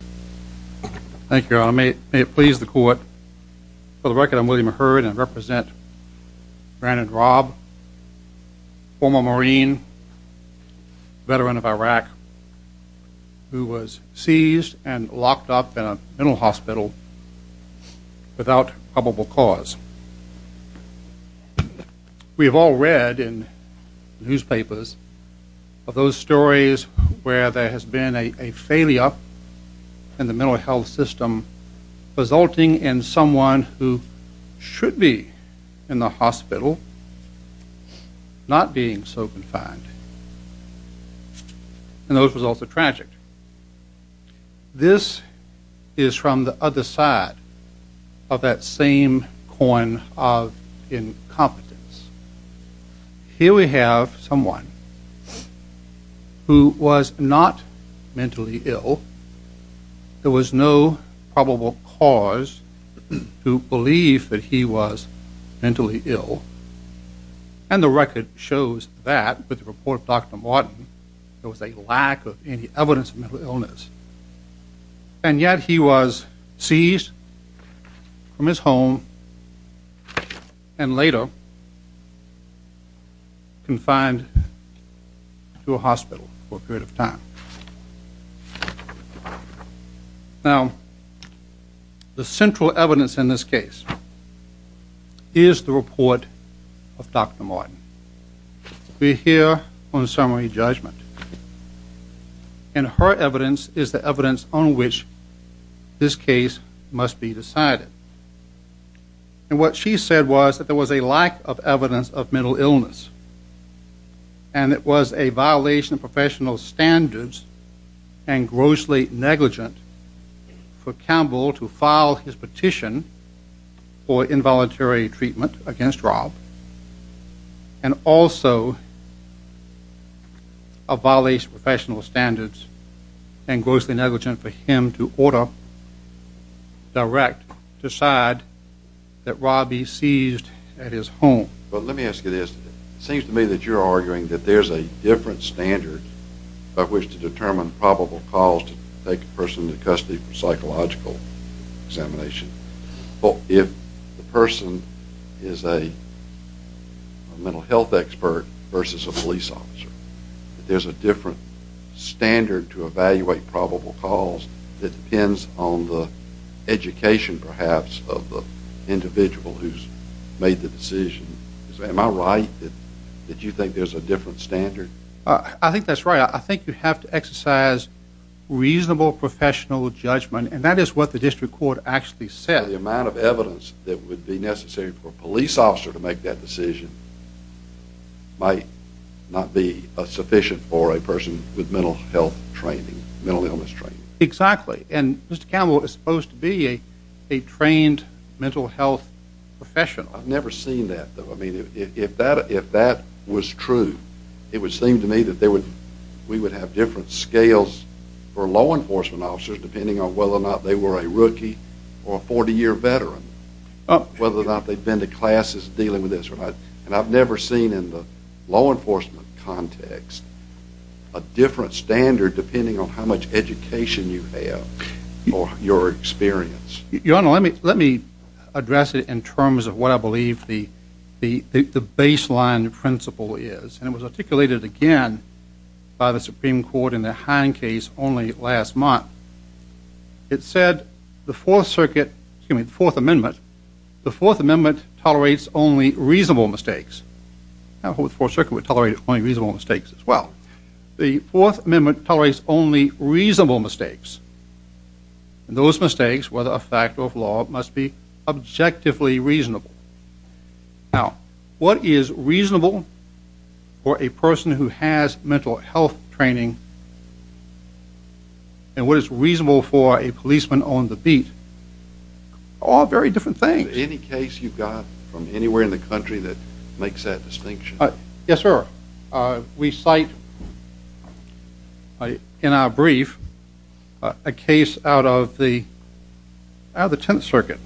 Thank you, Your Honor. May it please the court, for the record, I'm William Herd, and I represent Brandon Raub, former Marine, veteran of Iraq, who was seized and locked up in a mental hospital without probable cause. We have all read in newspapers of those stories where there has been a failure in the mental health system, resulting in someone who should be in the hospital not being so confined. And those results are tragic. This is from the other side of that same coin of incompetence. Here we have someone who was not mentally ill, there was no probable cause to believe that he was mentally ill, and the record shows that, with the report of Dr. Martin, there was a lack of any evidence of mental illness. And yet he was seized from his home and later confined to a hospital for a period of time. Now, the central evidence in this case is the report of Dr. Martin. We're here on summary judgment, and her evidence is the evidence on which this case must be decided. And what she said was that there was a lack of evidence of mental illness, and it was a violation of professional standards and grossly negligent for Campbell to file his petition for involuntary treatment against Rob, and also a violation of professional standards and grossly negligent for him to order direct to decide that Rob be seized at his home. But let me ask you this. It seems to me that you're arguing that there's a different standard by which to determine probable cause to take a person into custody for psychological examination. Well, if the person is a mental health expert versus a police officer, there's a different standard to evaluate probable cause that depends on the education, perhaps, of the individual who's made the decision. Am I right that you think there's a different standard? I think that's right. I think you have to exercise reasonable professional judgment, and that is what the district court actually said. The amount of evidence that would be necessary for a police officer to make that decision might not be sufficient for a person with mental health training, mental illness training. Exactly, and Mr. Campbell is supposed to be a trained mental health professional. I've never seen that, though. If that was true, it would seem to me that we would have different scales for law enforcement officers depending on whether or not they were a rookie or a 40-year veteran, whether or not they've been to classes dealing with this. And I've never seen in the law enforcement context a different standard depending on how much education you have or your experience. Your Honor, let me address it in terms of what I believe the baseline principle is, and it was articulated again by the Supreme Court in the Heine case only last month. It said the Fourth Circuit, excuse me, the Fourth Amendment, the Fourth Amendment tolerates only reasonable mistakes. I hope the Fourth Circuit would tolerate only reasonable mistakes as well. The Fourth Amendment tolerates only reasonable mistakes, and those mistakes, whether a fact or a flaw, must be objectively reasonable. Now, what is reasonable for a person who has mental health training and what is reasonable for a policeman on the beat? All very different things. Any case you've got from anywhere in the country that makes that distinction? Yes, sir. We cite in our brief a case out of the out of the Tenth Circuit.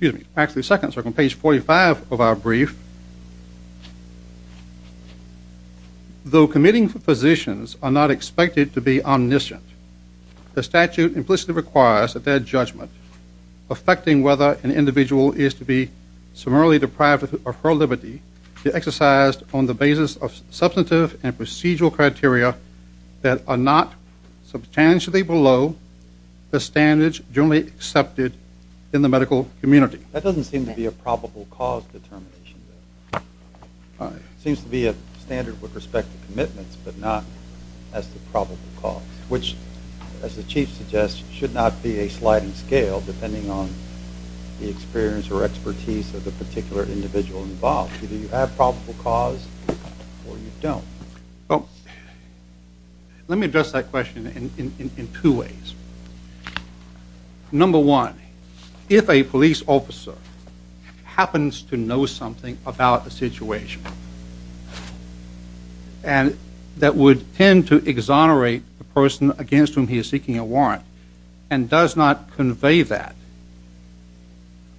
Excuse me, actually Second Circuit, on page 45 of our brief. Though committing physicians are not expected to be omniscient, the statute implicitly requires that their judgment affecting whether an individual is to be summarily deprived of her liberty be exercised on the basis of substantive and procedural criteria that are not substantially below the standards generally accepted in the medical community. That doesn't seem to be a probable cause determination. But not as the probable cause, which, as the chief suggests, should not be a sliding scale depending on the experience or expertise of the particular individual involved. Either you have probable cause or you don't. Let me address that question in two ways. Number one, if a police officer happens to know something about the situation, and that would tend to exonerate the person against whom he is seeking a warrant, and does not convey that,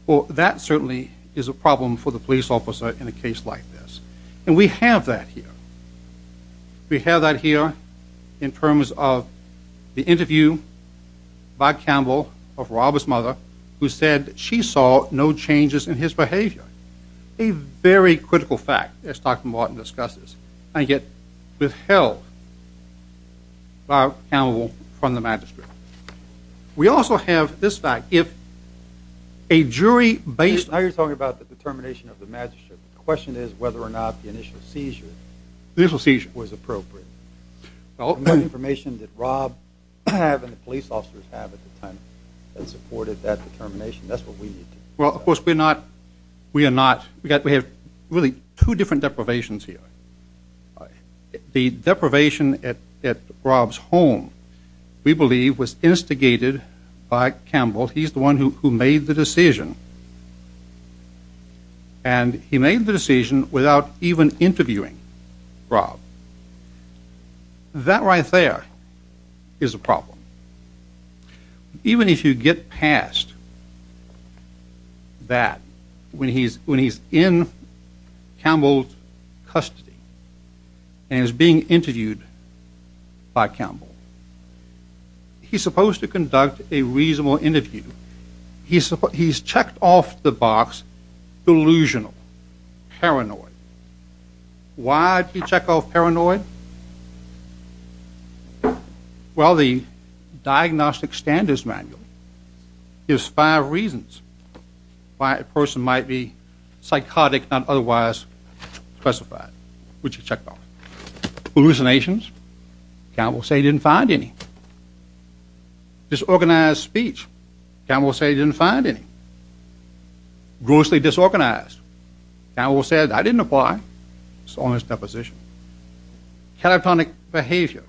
well, that certainly is a problem for the police officer in a case like this. And we have that here. We have that here in terms of the interview by Campbell of Robert's mother, who said she saw no changes in his behavior. A very critical fact, as Dr. Martin discusses, and yet withheld by Campbell from the magistrate. We also have this fact. If a jury based... Now you're talking about the determination of the magistrate. The question is whether or not the initial seizure was appropriate. Well, the information that Rob and the police officers have at the time that supported that determination, that's what we need. Well, of course, we're not we are not... We have really two different deprivations here. The deprivation at Rob's home, we believe, was instigated by Campbell. He's the one who made the decision, and he made the decision without even interviewing Rob. That right there is a problem. Even if you get past that, when he's in Campbell's custody and is being interviewed by Campbell, he's supposed to conduct a reasonable interview. He's checked off the box delusional, paranoid. Why did he check off paranoid? Well, the diagnostic standards manual gives five reasons why a person might be psychotic and otherwise specified, which he checked off. Hallucinations, Campbell said he didn't find any. Disorganized speech, Campbell said he didn't find any. Grossly disorganized, Campbell said I didn't apply. It's all in his deposition. Caliphonic behavior,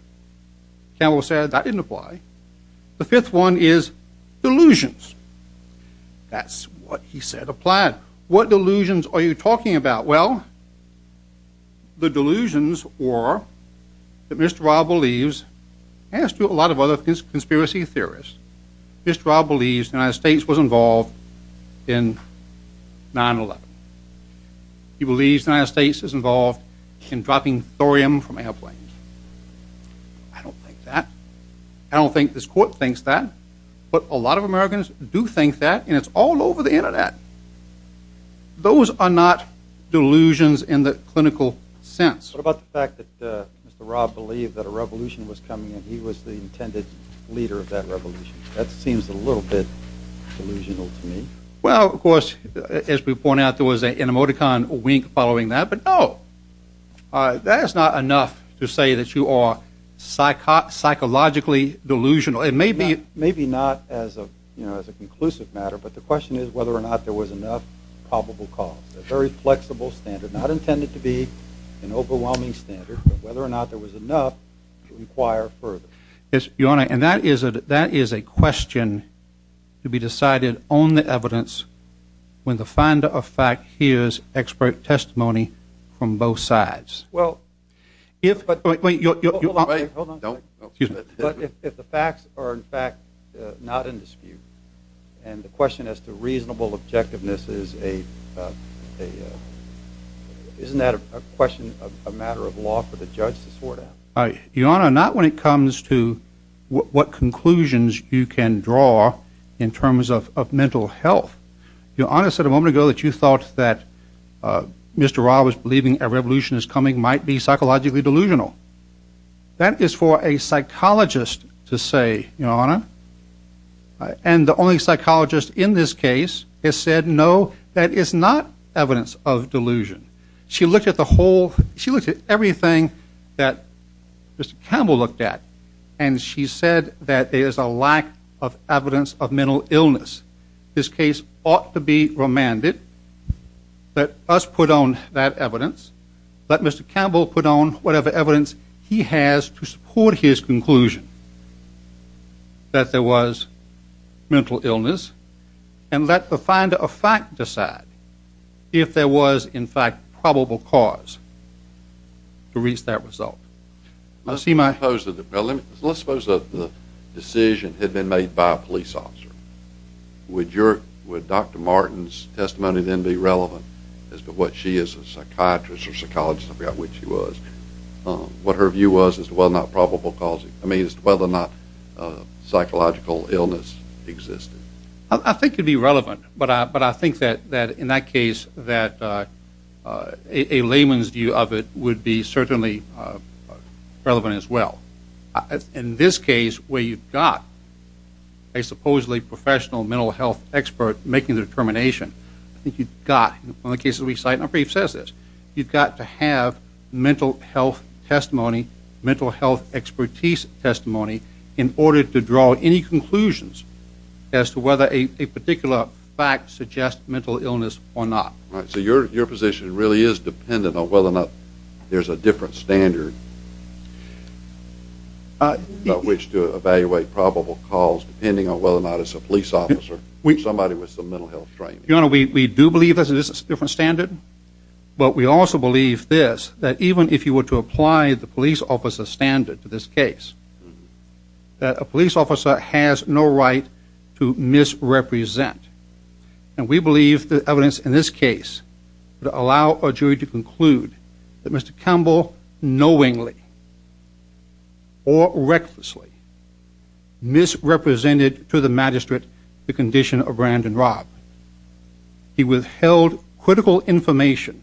Campbell said that didn't apply. The fifth one is delusions. That's what he said applied. What delusions are you talking about? Well, the delusions were that Mr. Rob believes, as to a lot of other conspiracy theorists, Mr. Rob believes the United States was involved in 9-11. He believes the United States is involved in dropping thorium from airplanes. I don't think that. I don't think this court thinks that, but a lot of Americans do think that, and it's all over the Internet. Those are not delusions in the clinical sense. What about the fact that Mr. Rob believed that a revolution was coming, and he was the intended leader of that revolution? That seems a little bit delusional to me. Well, of course, as we point out, there was an animoticon wink following that, but no. That's not enough to say that you are psychologically delusional. It may be, maybe not as a, you know, as a conclusive matter, but the question is whether or not there was enough probable cause. A very flexible standard, not intended to be an overwhelming standard, but whether or not there was enough to require further. Yes, Your Honor, and that is a question to be decided on the evidence when the finder of fact hears expert testimony from both sides. Well, if, but, wait, wait, hold on, hold on, excuse me, but if the facts are, in fact, not in dispute, and the question as to reasonable objectiveness is a, isn't that a question of a matter of law for the judge to sort out? Your Honor, not when it comes to what conclusions you can draw in terms of mental health. Your Honor, I said a moment ago that you thought that Mr. Ra was believing a revolution is coming might be psychologically delusional. That is for a psychologist to say, Your Honor, and the only psychologist in this case has said no, that is not evidence of delusion. She looked at the whole, she looked at everything that Mr. Campbell looked at, and she said that there is a lack of evidence of mental illness. This case ought to be remanded, that us put on that evidence, that Mr. Campbell put on whatever evidence he has to support his conclusion that there was mental illness, and let the finder of fact decide if there was, in fact, probable cause to reach that result. Let's see my- Let's suppose that the decision had been made by a police officer. Would your, would Dr. Martin's testimony then be relevant as to what she is a psychiatrist or psychologist, I forgot what she was, what her view was as to whether or not probable cause, I mean, as to whether or not psychological illness existed? I think it'd be relevant, but I think that in that case that a layman's view of it would be certainly relevant as well. In this case, where you've got a supposedly professional mental health expert making the determination, I think you've got, in the cases we cite, my brief says this, you've got to have mental health testimony, mental health expertise testimony, in order to draw any conclusions as to whether a particular fact suggests mental illness or not. All right, so your, your position really is dependent on whether or not there's a different standard about which to evaluate probable cause, depending on whether or not it's a police officer, somebody with some mental health training. Your Honor, we do believe there's a different standard, but we also believe this, that even if you were to apply the police officer standard to this case, that a police officer has no right to misrepresent, and we believe the evidence in this case would allow a jury to conclude that Mr. Langley, or recklessly, misrepresented to the magistrate the condition of Brandon Robb. He withheld critical information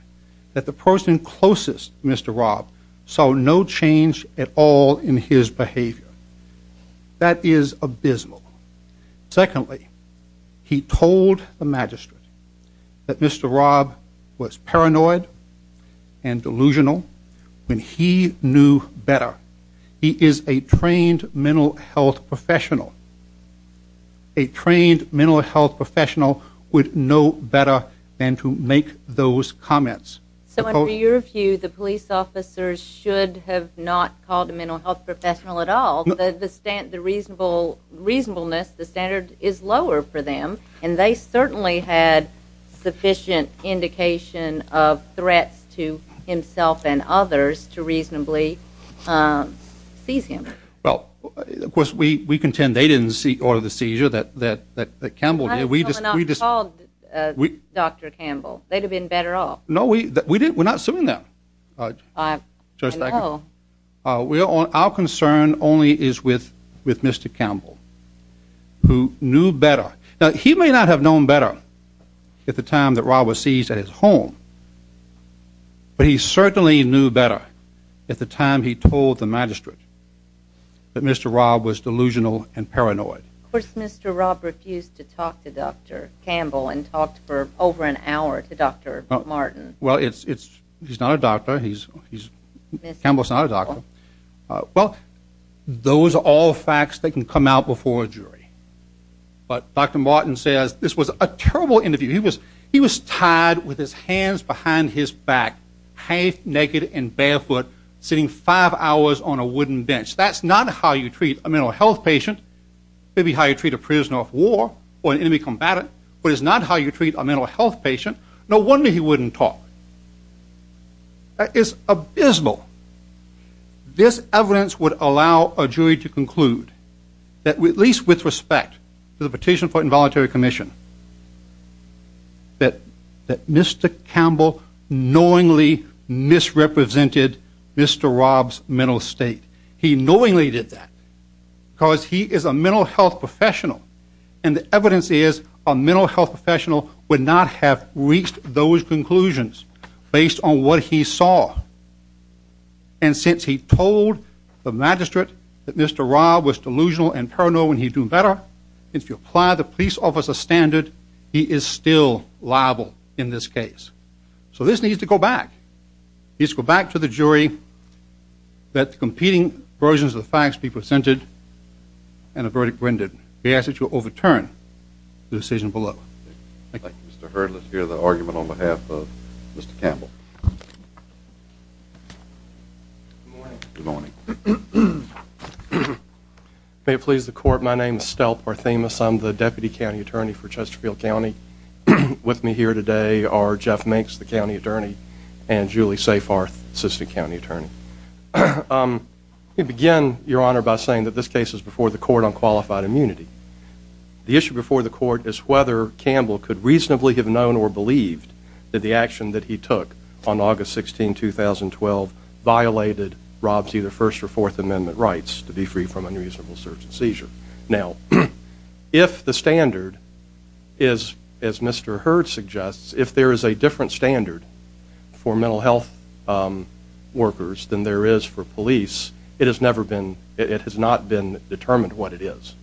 that the person closest Mr. Robb saw no change at all in his behavior. That is abysmal. Secondly, he told the magistrate that Mr. Robb was paranoid and knew better. He is a trained mental health professional. A trained mental health professional would know better than to make those comments. So in your view, the police officers should have not called a mental health professional at all, but the stand, the reasonable, reasonableness, the standard is lower for them, and they certainly had sufficient indication of threats to himself and others to reasonably seize him. Well, of course, we contend they didn't see or the seizure that, that, that, that Campbell did. We just, we just, we, Dr. Campbell, they'd have been better off. No, we, that, we didn't, we're not suing them. I know. Well, our concern only is with, with Mr. Campbell, who knew better. Now, he may not have known better at the time that Robb was seized at his home, but he certainly knew better at the time he told the magistrate that Mr. Robb was delusional and paranoid. Of course, Mr. Robb refused to talk to Dr. Campbell and talked for over an hour to Dr. Martin. Well, it's, it's, he's not a doctor. He's, he's, Campbell's not a doctor. Well, those are all facts that can come out before a jury, but Dr. Martin says this was a terrible interview. He was, he was tied with his hands behind his back, half naked and barefoot, sitting five hours on a wooden bench. That's not how you treat a mental health patient. Maybe how you treat a prisoner of war or an enemy combatant, but it's not how you treat a mental health patient. No wonder he wouldn't talk. That is abysmal. This evidence would allow a jury to conclude that we, at least with respect to the petition for involuntary commission, that, that Mr. Campbell knowingly misrepresented Mr. Robb's mental state. He knowingly did that because he is a mental health professional and the evidence is a mental health professional would not have reached those conclusions based on what he saw. And since he told the magistrate that Mr. Robb was delusional and paranoid when he'd do better, if you apply the police officer standard, he is still liable in this case. So this needs to go back. He needs to go back to the jury that the competing versions of the facts be presented and the verdict rendered. He asks that you overturn the decision below. Mr. Hurd, let's hear the argument on behalf of Mr. Campbell. Good morning. May it please the court, my name is Stelp Arthemus. I'm the deputy county attorney for Chesterfield County. With me here today are Jeff Minks, the county attorney, and Julie Seyfarth, assistant county attorney. Let me begin, your honor, by saying that this case is before the court on qualified immunity. The issue before the court is whether Campbell could reasonably have known or believed that the action that he took on August 16, 2012 violated Robb's either First or Fourth Amendment rights to be free from unreasonable search and seizure. Now, if the standard is, as Mr. Hurd suggests, if there is a different standard for mental health workers than there is for police, it has not been determined what it is.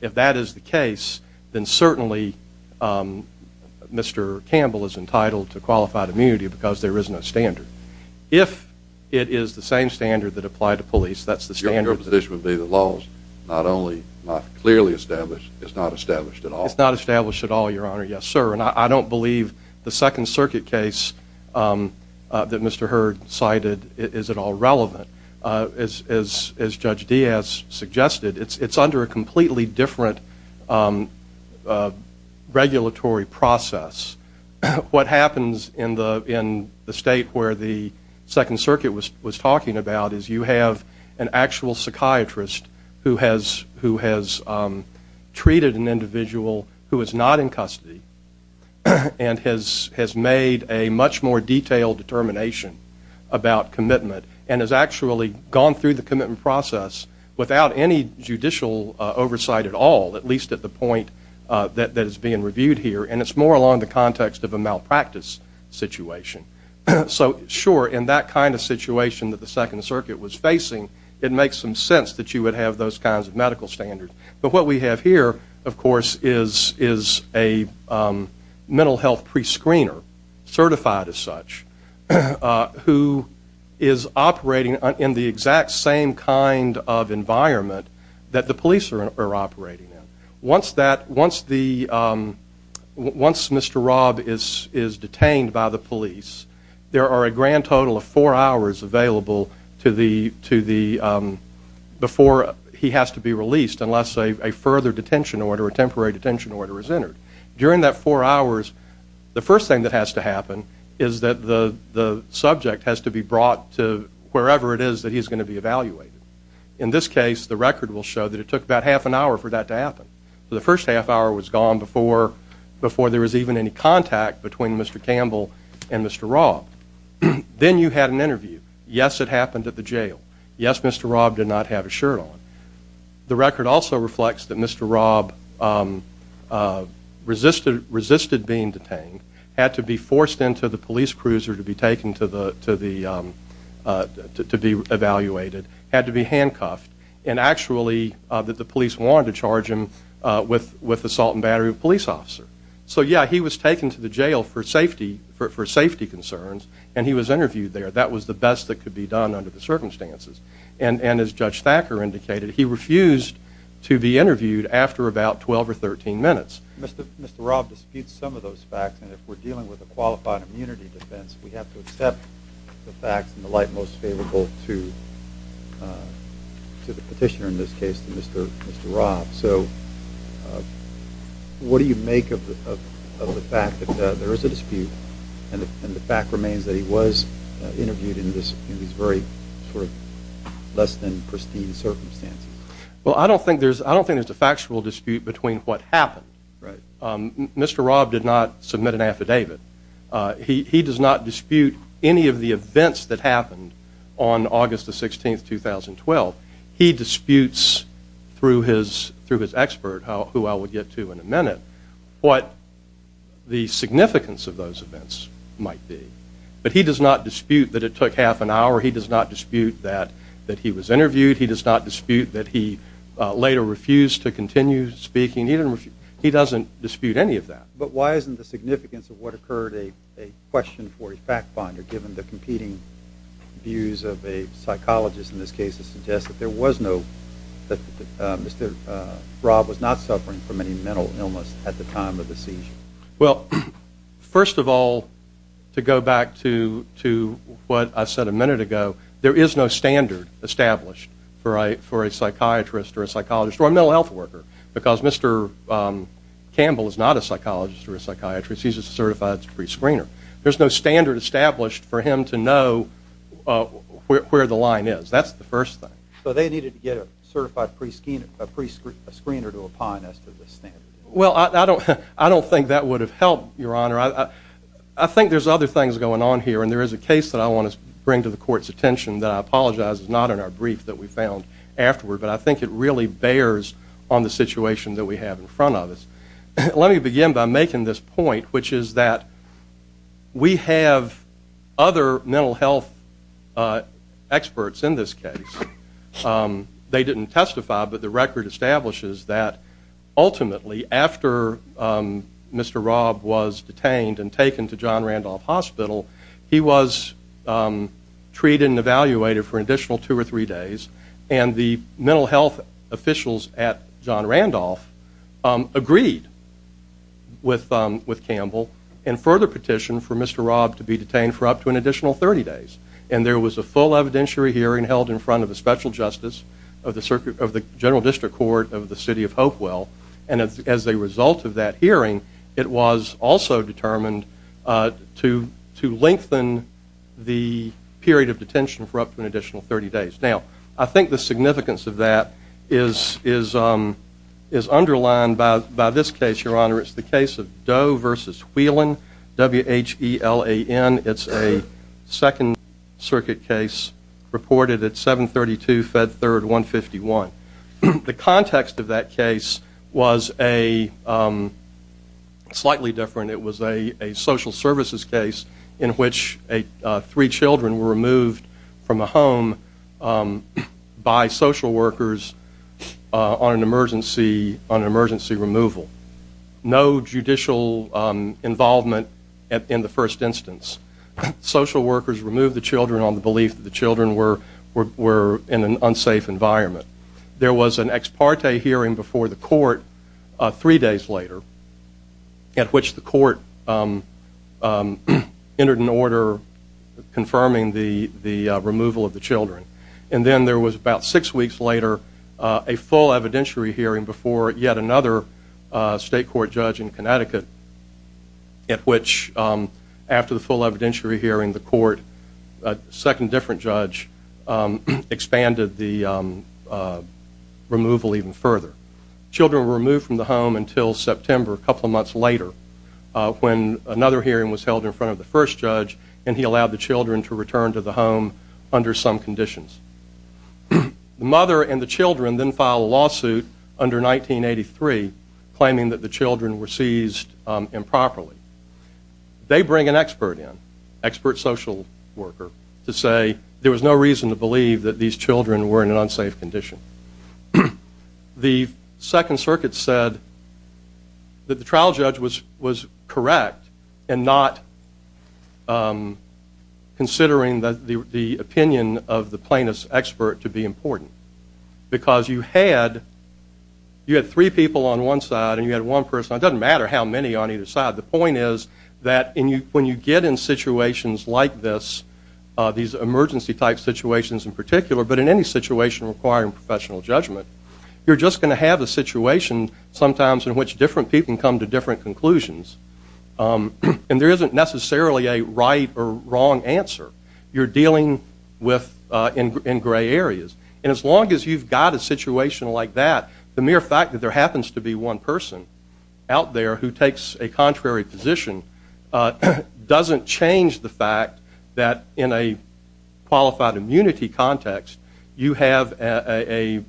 If that is the case, then certainly Mr. Campbell is entitled to qualified immunity because there is no standard. If it is the same standard that applied to police, that's the standard. Your position would be the law's not only not clearly established, it's not established at all. It's not established at all, your honor. Yes, sir, and I don't believe the Second Circuit case that Mr. Hurd cited is at all relevant. As Judge Diaz suggested, it's under a completely different regulatory process. What happens in the in the state where the Second Circuit was was talking about is you have an actual psychiatrist who has treated an individual who is not in custody and has made a much more detailed determination about commitment and has actually gone through the commitment process without any judicial oversight at all, at least at the point that that is being reviewed here, and it's more along the context of a malpractice situation. So sure, in that kind of situation that the Second Circuit was facing, it makes some sense that you would have those kinds of medical standards, but what we have here, of course, is is a mental health prescreener certified as such who is operating in the exact same kind of situation that the police are operating in. Once Mr. Rob is detained by the police, there are a grand total of four hours available before he has to be released unless a further detention order, a temporary detention order, is entered. During that four hours, the first thing that has to happen is that the subject has to be brought to wherever it is that he's going to be evaluated. In this case, the record will show that it took about half an hour for that to happen. So the first half hour was gone before there was even any contact between Mr. Campbell and Mr. Rob. Then you had an interview. Yes, it happened at the jail. Yes, Mr. Rob did not have a shirt on. The record also reflects that Mr. Rob resisted being detained, had to be forced into the police cruiser to be taken to the evaluated, had to be handcuffed, and actually that the police wanted to charge him with assault and battery of a police officer. So yeah, he was taken to the jail for safety concerns, and he was interviewed there. That was the best that could be done under the circumstances. And as Judge Thacker indicated, he refused to be interviewed after about 12 or 13 minutes. Mr. Rob disputes some of those facts, and if we're dealing with a qualified immunity defense, we have to accept the facts and the light most favorable to the petitioner in this case, to Mr. Rob. So what do you make of the fact that there is a dispute, and the fact remains that he was interviewed in this very less than pristine circumstances? Well, I don't think there's a factual dispute between what happened, right? Mr. Rob did not submit an affidavit. He does not dispute any of the events that happened on August the 16th, 2012. He disputes through his expert, who I will get to in a minute, what the significance of those events might be. But he does not dispute that it took half an hour. He does not dispute that he was interviewed. He does not dispute that he later refused to continue speaking. He doesn't dispute any of that. But why isn't the significance of what occurred a question for a fact-finder, given the competing views of a psychologist in this case, to suggest that there was no, that Mr. Rob was not suffering from any mental illness at the time of the seizure? Well, first of all, to go back to what I said a minute ago, there is no standard established for a psychiatrist or a psychologist, or a mental health worker, because Mr. Campbell is not a psychologist or a psychiatrist. He's a certified prescreener. There's no standard established for him to know where the line is. That's the first thing. So they needed to get a certified prescreener, a prescreener to apply as to the standard? Well, I don't think that would have helped, Your Honor. I think there's other things going on here, and there is a case that I want to bring to the court's attention that I apologize is not in our brief that we found afterward, but I think it really bears on the situation that we have in front of us. Let me begin by making this point, which is that we have other mental health experts in this case. They didn't testify, but the record establishes that ultimately, after Mr. Robb was detained and taken to John Randolph Hospital, he was treated and evaluated for an additional two or three days, and the mental health officials at John Randolph agreed with Campbell and further petitioned for Mr. Robb to be detained for up to an additional 30 days. And there was a full evidentiary hearing held in front of a special justice of the General District Court of the City of Hopewell, and as a result of that hearing, it was also determined to lengthen the period of detention for up to an additional 30 days. Now, I think the significance of that is underlined by this case, Your Honor. It's the case of Doe v. Whelan, W-H-E-L-A-N. It's a Second Circuit case reported at 732 Fed 3rd 151. The context of that case was a slightly different. It was a social services case in which three children were removed from a home by social workers on an emergency removal. No judicial involvement in the first instance. Social workers removed the children on the belief that the children were in an unsafe environment. There was an ex parte hearing before the court three days later at which the court entered an order confirming the the removal of the children. And then there was about six weeks later a full evidentiary hearing before yet another state court judge in Connecticut at which after the full evidentiary hearing the court, a second different judge, expanded the removal even further. Children were removed from the home until September, a couple of months later, when another hearing was held in front of the first judge and he allowed the children to return to the home under some conditions. The mother and the children then filed a lawsuit under 1983 claiming that the children were seized improperly. They bring an expert in, expert social worker, to say there was no reason to believe that these children were in an unsafe condition. The Second Circuit said that the trial judge was was correct and not considering that the opinion of the plaintiff's expert to be important because you had you had three people on one side, and you had one person. It doesn't matter how many on either side. The point is that in you when you get in situations like this, these emergency type situations in particular, but in any situation requiring professional judgment, you're just going to have a situation sometimes in which different people come to different conclusions. And there isn't necessarily a right or wrong answer. You're dealing with in gray areas. And as long as you've got a situation like that, the mere fact that there happens to be one person out there who takes a contrary position doesn't change the fact that in a qualified immunity context, you have a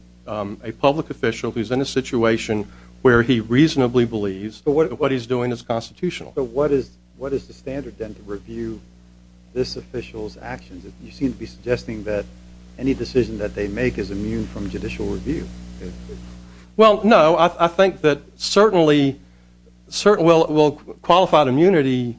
public official who's in a situation where he reasonably believes what he's doing is constitutional. So what is what is the standard then to review this official's actions? You seem to be suggesting that any decision that they make is immune from judicial review. Well, no, I think that certainly certain well qualified immunity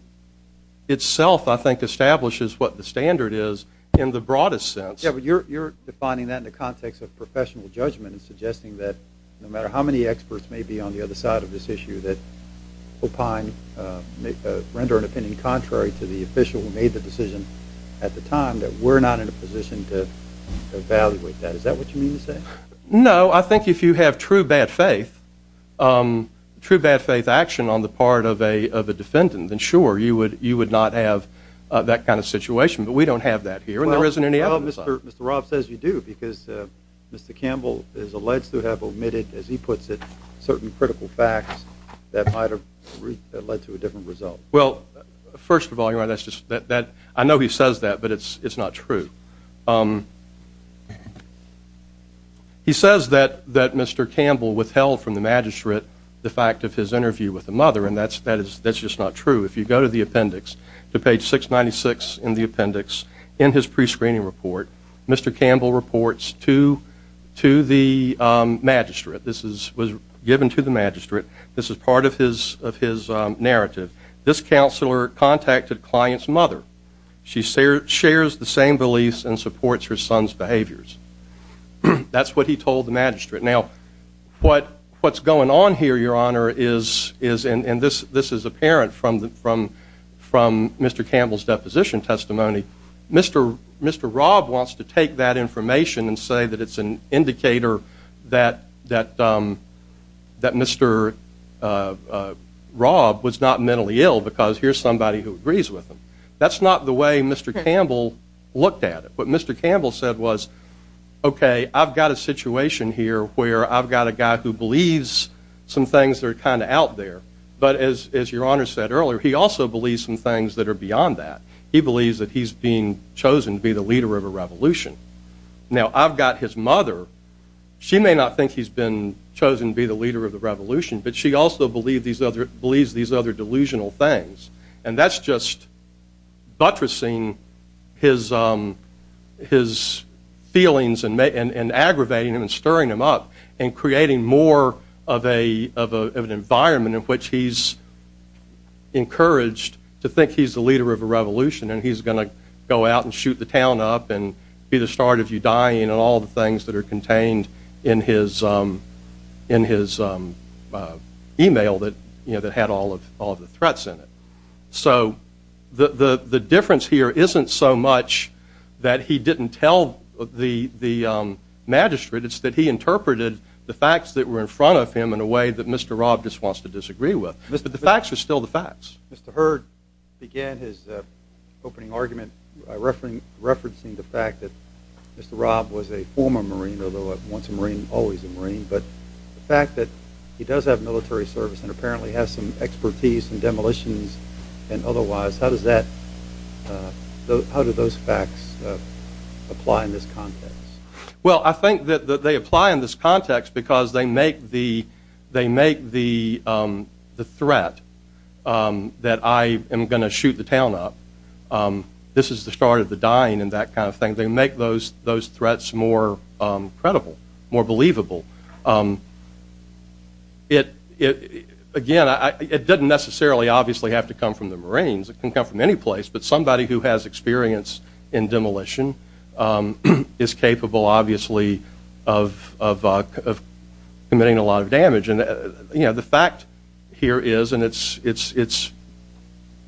itself I think establishes what the standard is in the broadest sense. Yeah, but you're defining that in the context of professional judgment and suggesting that no matter how many experts may be on the other side of this issue that opine render an opinion contrary to the official who made the decision at the time that we're not in a position to evaluate that. Is that what you mean to say? No, I think if you have true bad faith true bad faith action on the part of a of a defendant and sure you would you would not have that kind of situation, but we don't have that here and there isn't any other. Well, Mr. Rob says you do because Mr. Campbell is alleged to have omitted as he puts it certain critical facts that might have led to a different result. Well, first of all, you're right. That's just that that I know he says that but it's it's not true. He says that that Mr. Campbell withheld from the magistrate the fact of his interview with the mother and that's that is that's just not true. If you go to the appendix to page 696 in the appendix in his pre-screening report, Mr. Campbell was given to the magistrate. This is was given to the magistrate. This is part of his of his narrative. This counselor contacted client's mother. She shares the same beliefs and supports her son's behaviors. That's what he told the magistrate. Now, what what's going on here, Your Honor, is is and this this is apparent from the from from Mr. Campbell's deposition testimony. Mr. Mr. Rob wants to take that information and say that it's an indicator that that that Mr. Rob was not mentally ill because here's somebody who agrees with him. That's not the way Mr. Campbell looked at it, but Mr. Campbell said was okay, I've got a situation here where I've got a guy who believes some things that are kind of out there. But as as Your Honor said earlier, he also believes some things that are beyond that. He believes that he's being chosen to be the leader of a revolution. Now, I've got his mother. She may not think he's been chosen to be the leader of the revolution, but she also believe these other believes these other delusional things and that's just buttressing his his feelings and aggravating him and stirring him up and creating more of a of an environment in which he's the leader of a revolution and he's going to go out and shoot the town up and be the start of you dying and all the things that are contained in his in his email that you know that had all of all the threats in it. So the the the difference here isn't so much that he didn't tell the the magistrate, it's that he interpreted the facts that were in front of him in a way that Mr. Rob just wants to disagree with. But the facts are still the facts. Mr. Heard began his opening argument referencing the fact that Mr. Rob was a former Marine, although at once a Marine, always a Marine, but the fact that he does have military service and apparently has some expertise in demolitions and otherwise, how does that how do those facts apply in this context? Well, I think that they apply in this context because they make the they make the the threat that I am going to shoot the town up. This is the start of the dying and that kind of thing. They make those those threats more credible, more believable. It again, it doesn't necessarily obviously have to come from the Marines. It can come from any place, but somebody who has experience in demolition is capable obviously of committing a lot of damage. And, you know, the fact here is and it's it's it's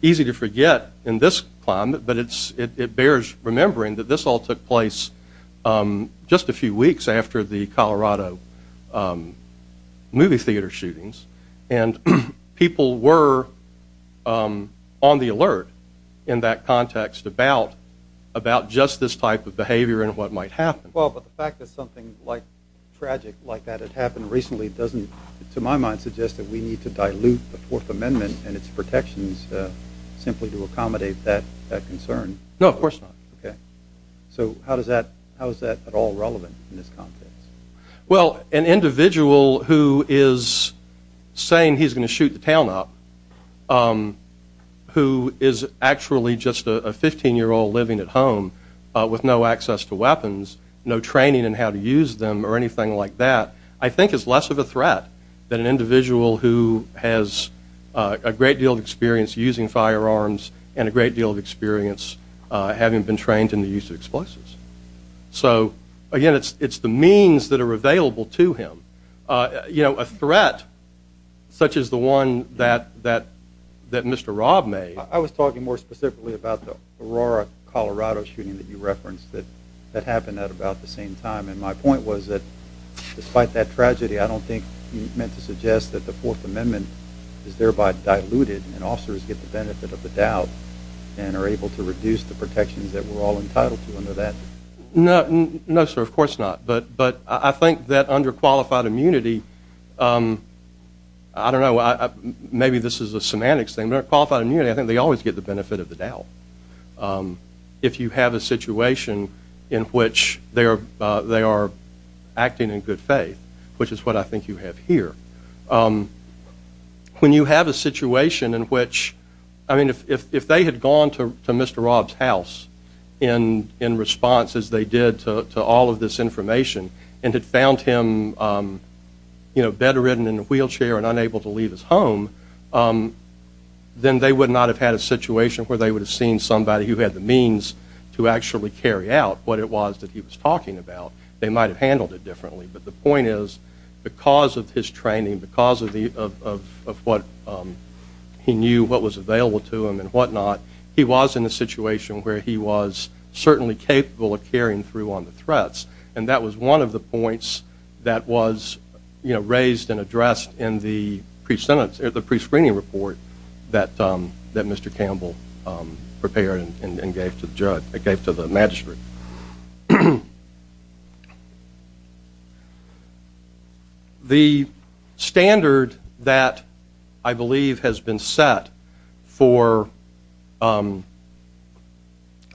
easy to forget in this climate, but it's it bears remembering that this all took place just a few weeks after the Colorado movie theater shootings and people were on the alert in that context about just this type of behavior and what might happen. Well, but the fact that something like tragic like that had happened recently doesn't to my mind suggest that we need to dilute the Fourth Amendment and its protections simply to accommodate that concern. No, of course not. Okay, so how does that how is that at all relevant in this context? Well, an individual who is saying he's going to shoot the town up who is actually just a 15 year old living at home with no access to weapons, no training and how to use them or anything like that, I think is less of a threat than an individual who has a great deal of experience using firearms and a great deal of experience having been trained in the use of explosives. So again, it's it's the means that are available to him. You know a threat such as the one that that that Mr. Rob made. I was talking more specifically about the Aurora, Colorado shooting that you referenced that that happened at about the same time and my point was that despite that tragedy I don't think you meant to suggest that the Fourth Amendment is thereby diluted and officers get the benefit of the doubt and are able to reduce the protections that we're all entitled to under that. No, no, sir, of course not but but I think that under qualified immunity I don't know, maybe this is a semantics thing, but under qualified immunity, I think they always get the benefit of the doubt. If you have a situation in which they are they are acting in good faith, which is what I think you have here. When you have a situation in which I mean if they had gone to Mr. Rob's house in in response as they did to all of this information and had found him you know bedridden in a wheelchair and unable to leave his home then they would not have had a situation where they would have seen somebody who had the means to actually carry out what it was that he was talking about. They might have handled it differently, but the point is because of his training because of the of what he knew what was available to him and whatnot he was in a situation where he was certainly capable of carrying through on the threats and that was one of the points that was you know raised and addressed in the pre-sentence or the pre-screening report that that Mr. Campbell prepared and gave to the judge, gave to the magistrate. The standard that I believe has been set for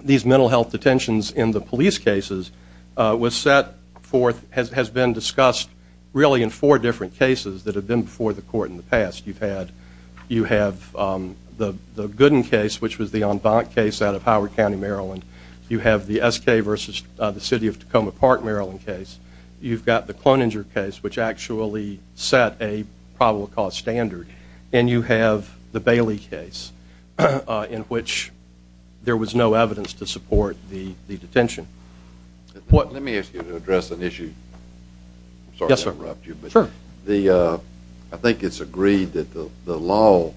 these mental health detentions in the police cases was set forth has been discussed really in four different cases that have been before the court in the past. You've had you have the Gooden case which was the en banc case out of Howard County, Maryland. You have the SK versus the city of Tacoma Park, Maryland case. You've got the Cloninger case which actually set a probable cause standard and you have the Bailey case. In which there was no evidence to support the detention. Let me ask you to address an issue. Yes, sir. I think it's agreed that the law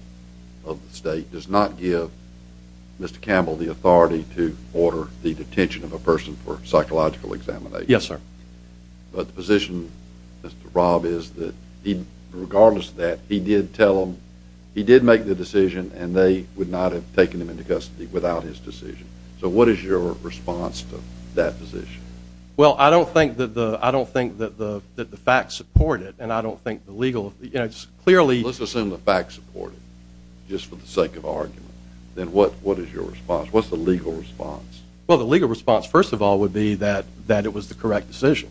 of the state does not give Mr. Campbell the authority to order the detention of a person for psychological examination. Yes, sir. But the position Rob is that he regardless that he did tell him he did make the decision and they would not have taken him into custody without his decision. So what is your response to that position? Well, I don't think that the I don't think that the that the facts support it and I don't think the legal it's clearly Let's assume the facts support it just for the sake of argument. Then what what is your response? What's the legal response? Well, the legal response first of all would be that that it was the correct decision.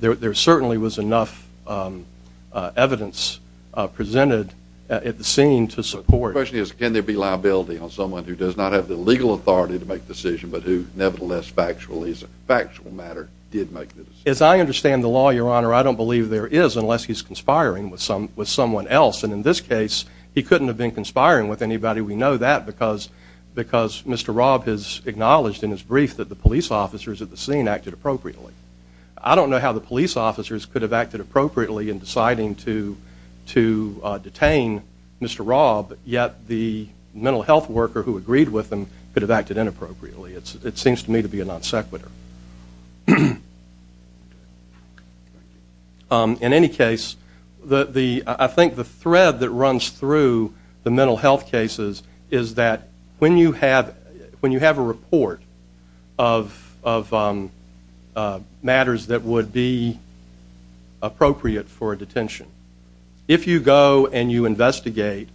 There certainly was enough evidence Presented at the scene to support question is can there be liability on someone who does not have the legal authority to make decision? But who nevertheless factually is a factual matter did make this as I understand the law your honor I don't believe there is unless he's conspiring with some with someone else and in this case He couldn't have been conspiring with anybody. We know that because because mr Rob has acknowledged in his brief that the police officers at the scene acted appropriately I don't know how the police officers could have acted appropriately in deciding to to Detain, mr. Rob yet the mental health worker who agreed with them could have acted inappropriately It's it seems to me to be a non sequitur In any case the the I think the thread that runs through the mental health cases is that when you have when you have a report of Matters that would be appropriate for a detention if you go and you investigate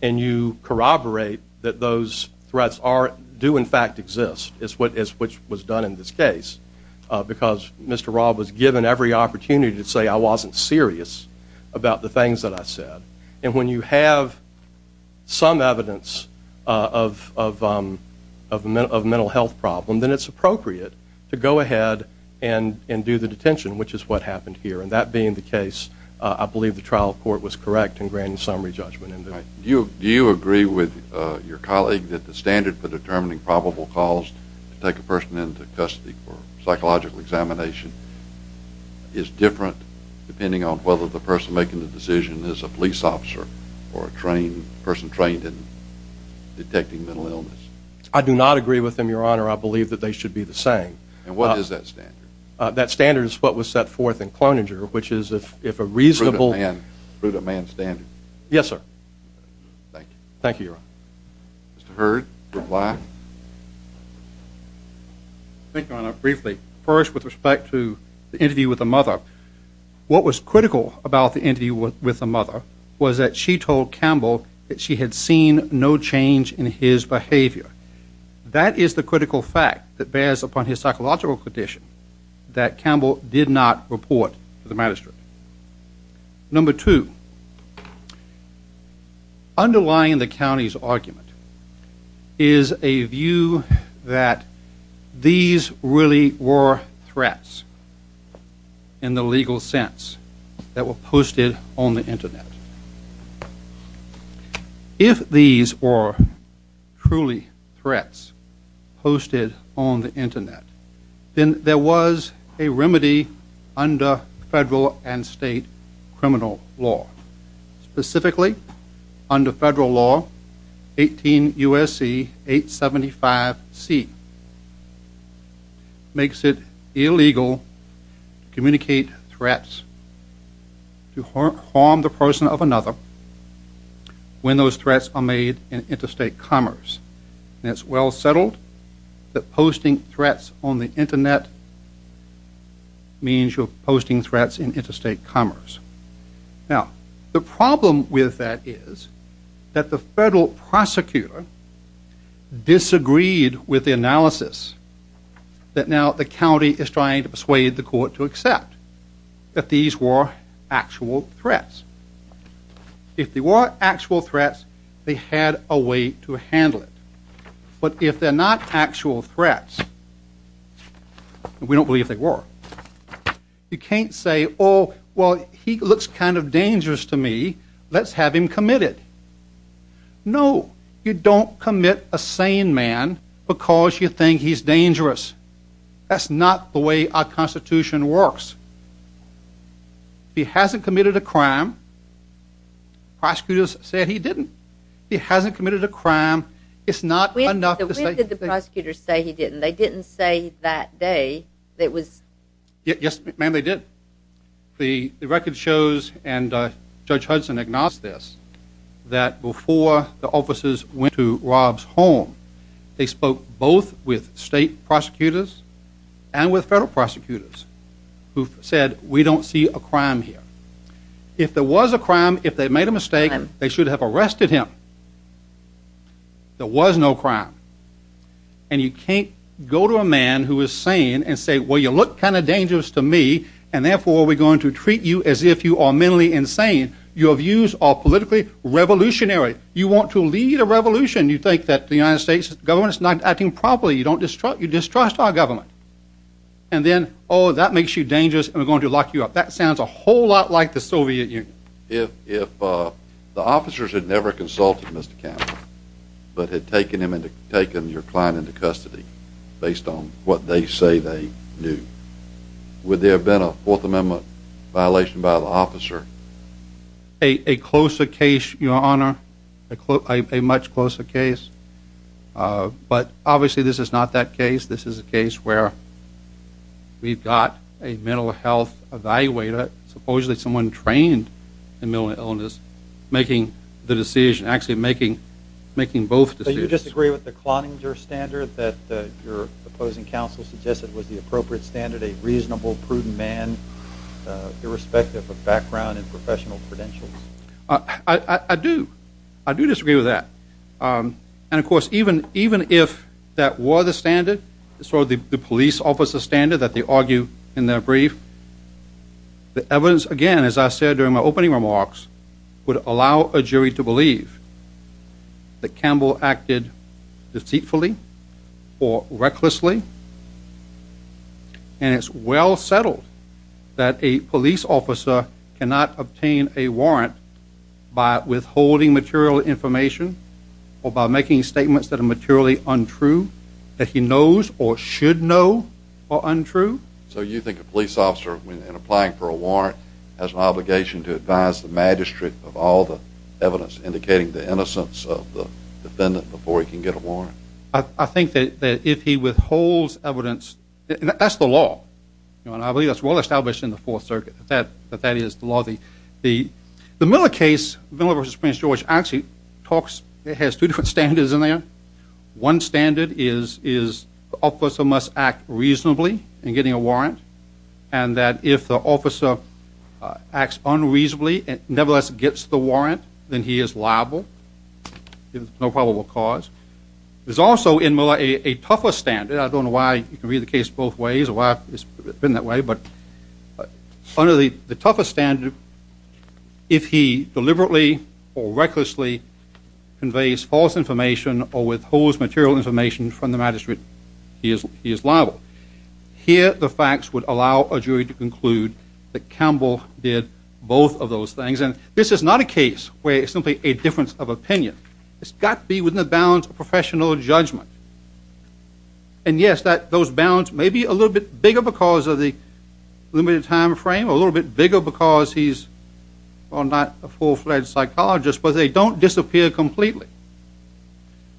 and you Corroborate that those threats are do in fact exist. It's what is which was done in this case Because mr. Rob was given every opportunity to say I wasn't serious about the things that I said and when you have some evidence of Of a mental health problem, then it's appropriate to go ahead and and do the detention Which is what happened here and that being the case? I believe the trial court was correct and granted summary judgment And do you do you agree with your colleague that the standard for determining probable cause to take a person into custody for? psychological examination Is different depending on whether the person making the decision is a police officer or a trained person trained in? Detecting mental illness I do not agree with him your honor I believe that they should be the same and what is that standard that standard is what was set forth in cloning er Which is if if a reasonable hand through the man standing? Yes, sir Thank you. Thank you Mr. Heard good luck Thank you on a briefly first with respect to the interview with the mother What was critical about the interview with the mother was that she told Campbell that she had seen no change in his behavior That is the critical fact that bears upon his psychological condition that Campbell did not report to the magistrate number two Underlying the county's argument is a view that these really were threats and In the legal sense that were posted on the internet If these were truly threats Posted on the internet, then there was a remedy under federal and state criminal law specifically under federal law 18 USC 875 C Makes it illegal Communicate threats To harm the person of another When those threats are made in interstate commerce, and it's well settled that posting threats on the internet Means you're posting threats in interstate commerce Now the problem with that is that the federal prosecutor disagreed with the analysis That now the county is trying to persuade the court to accept that these were actual threats If they were actual threats, they had a way to handle it. But if they're not actual threats We don't believe they were You can't say. Oh, well, he looks kind of dangerous to me. Let's have him committed No, you don't commit a sane man because you think he's dangerous That's not the way our Constitution works He hasn't committed a crime Prosecutors said he didn't he hasn't committed a crime It's not enough to say that the prosecutors say he didn't they didn't say that day. It was Yes, ma'am. They did the record shows and Judge Hudson agnostic That before the officers went to Rob's home they spoke both with state prosecutors and with federal prosecutors who Said we don't see a crime here If there was a crime if they made a mistake, they should have arrested him There was no crime and You can't go to a man who is sane and say well You look kind of dangerous to me and therefore we're going to treat you as if you are mentally insane Your views are politically revolutionary. You want to lead a revolution? You think that the United States government's not acting properly? you don't disrupt you distrust our government and Then oh that makes you dangerous and we're going to lock you up. That sounds a whole lot like the Soviet Union Yeah, if the officers had never consulted mr. Campbell but had taken him into taking your client into custody based on what they say they knew Would there have been a Fourth Amendment? violation by the officer a closer case your honor a much closer case But obviously this is not that case. This is a case where We've got a mental health evaluator Supposedly someone trained in mental illness making the decision actually making making both Do you disagree with the cloning your standard that your opposing counsel suggested was the appropriate standard a reasonable prudent man? Irrespective of background and professional credentials, I Do I do disagree with that? And of course even even if that were the standard it's sort of the police officer standard that they argue in their brief The evidence again as I said during my opening remarks would allow a jury to believe that Campbell acted deceitfully or recklessly And it's well settled that a police officer cannot obtain a warrant by withholding material information Or by making statements that are materially untrue that he knows or should know or untrue so you think a police officer when applying for a warrant has an obligation to advise the magistrate of all the evidence indicating the innocence of the Evidence that's the law you know and I believe that's well established in the Fourth Circuit that that that is the law the the The Miller case Miller versus Prince George actually talks. It has two different standards in there one standard is is Officer must act reasonably and getting a warrant and that if the officer Acts unreasonably and nevertheless gets the warrant then he is liable There's no probable cause There's also in Miller a tougher standard. I don't know why you can read the case both ways or why it's been that way but under the the tougher standard if he deliberately or recklessly Conveys false information or withholds material information from the magistrate he is he is liable Here the facts would allow a jury to conclude that Campbell did both of those things And this is not a case where it's simply a difference of opinion. It's got to be within the bounds of professional judgment and yes, that those bounds may be a little bit bigger because of the Limited time frame a little bit bigger because he's or not a full-fledged psychologist, but they don't disappear completely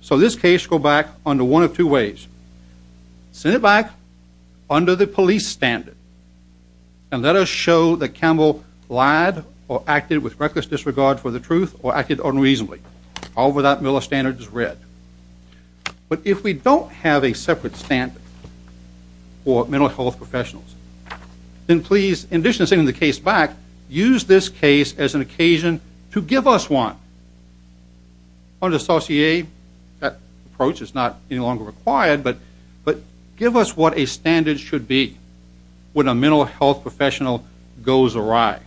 So this case go back under one of two ways Send it back under the police standard and let us show that Campbell lied or acted With reckless disregard for the truth or acted unreasonably all without Miller standards read But if we don't have a separate stand for mental health professionals Then please in addition to sending the case back use this case as an occasion to give us one On the saucier that approach is not any longer required But but give us what a standard should be when a mental health professional goes awry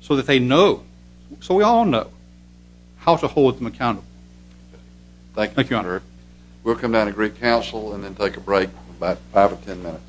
So that they know so we all know how to hold them accountable Thank you. Thank you honor. We'll come down to great counsel and then take a break about five or ten minutes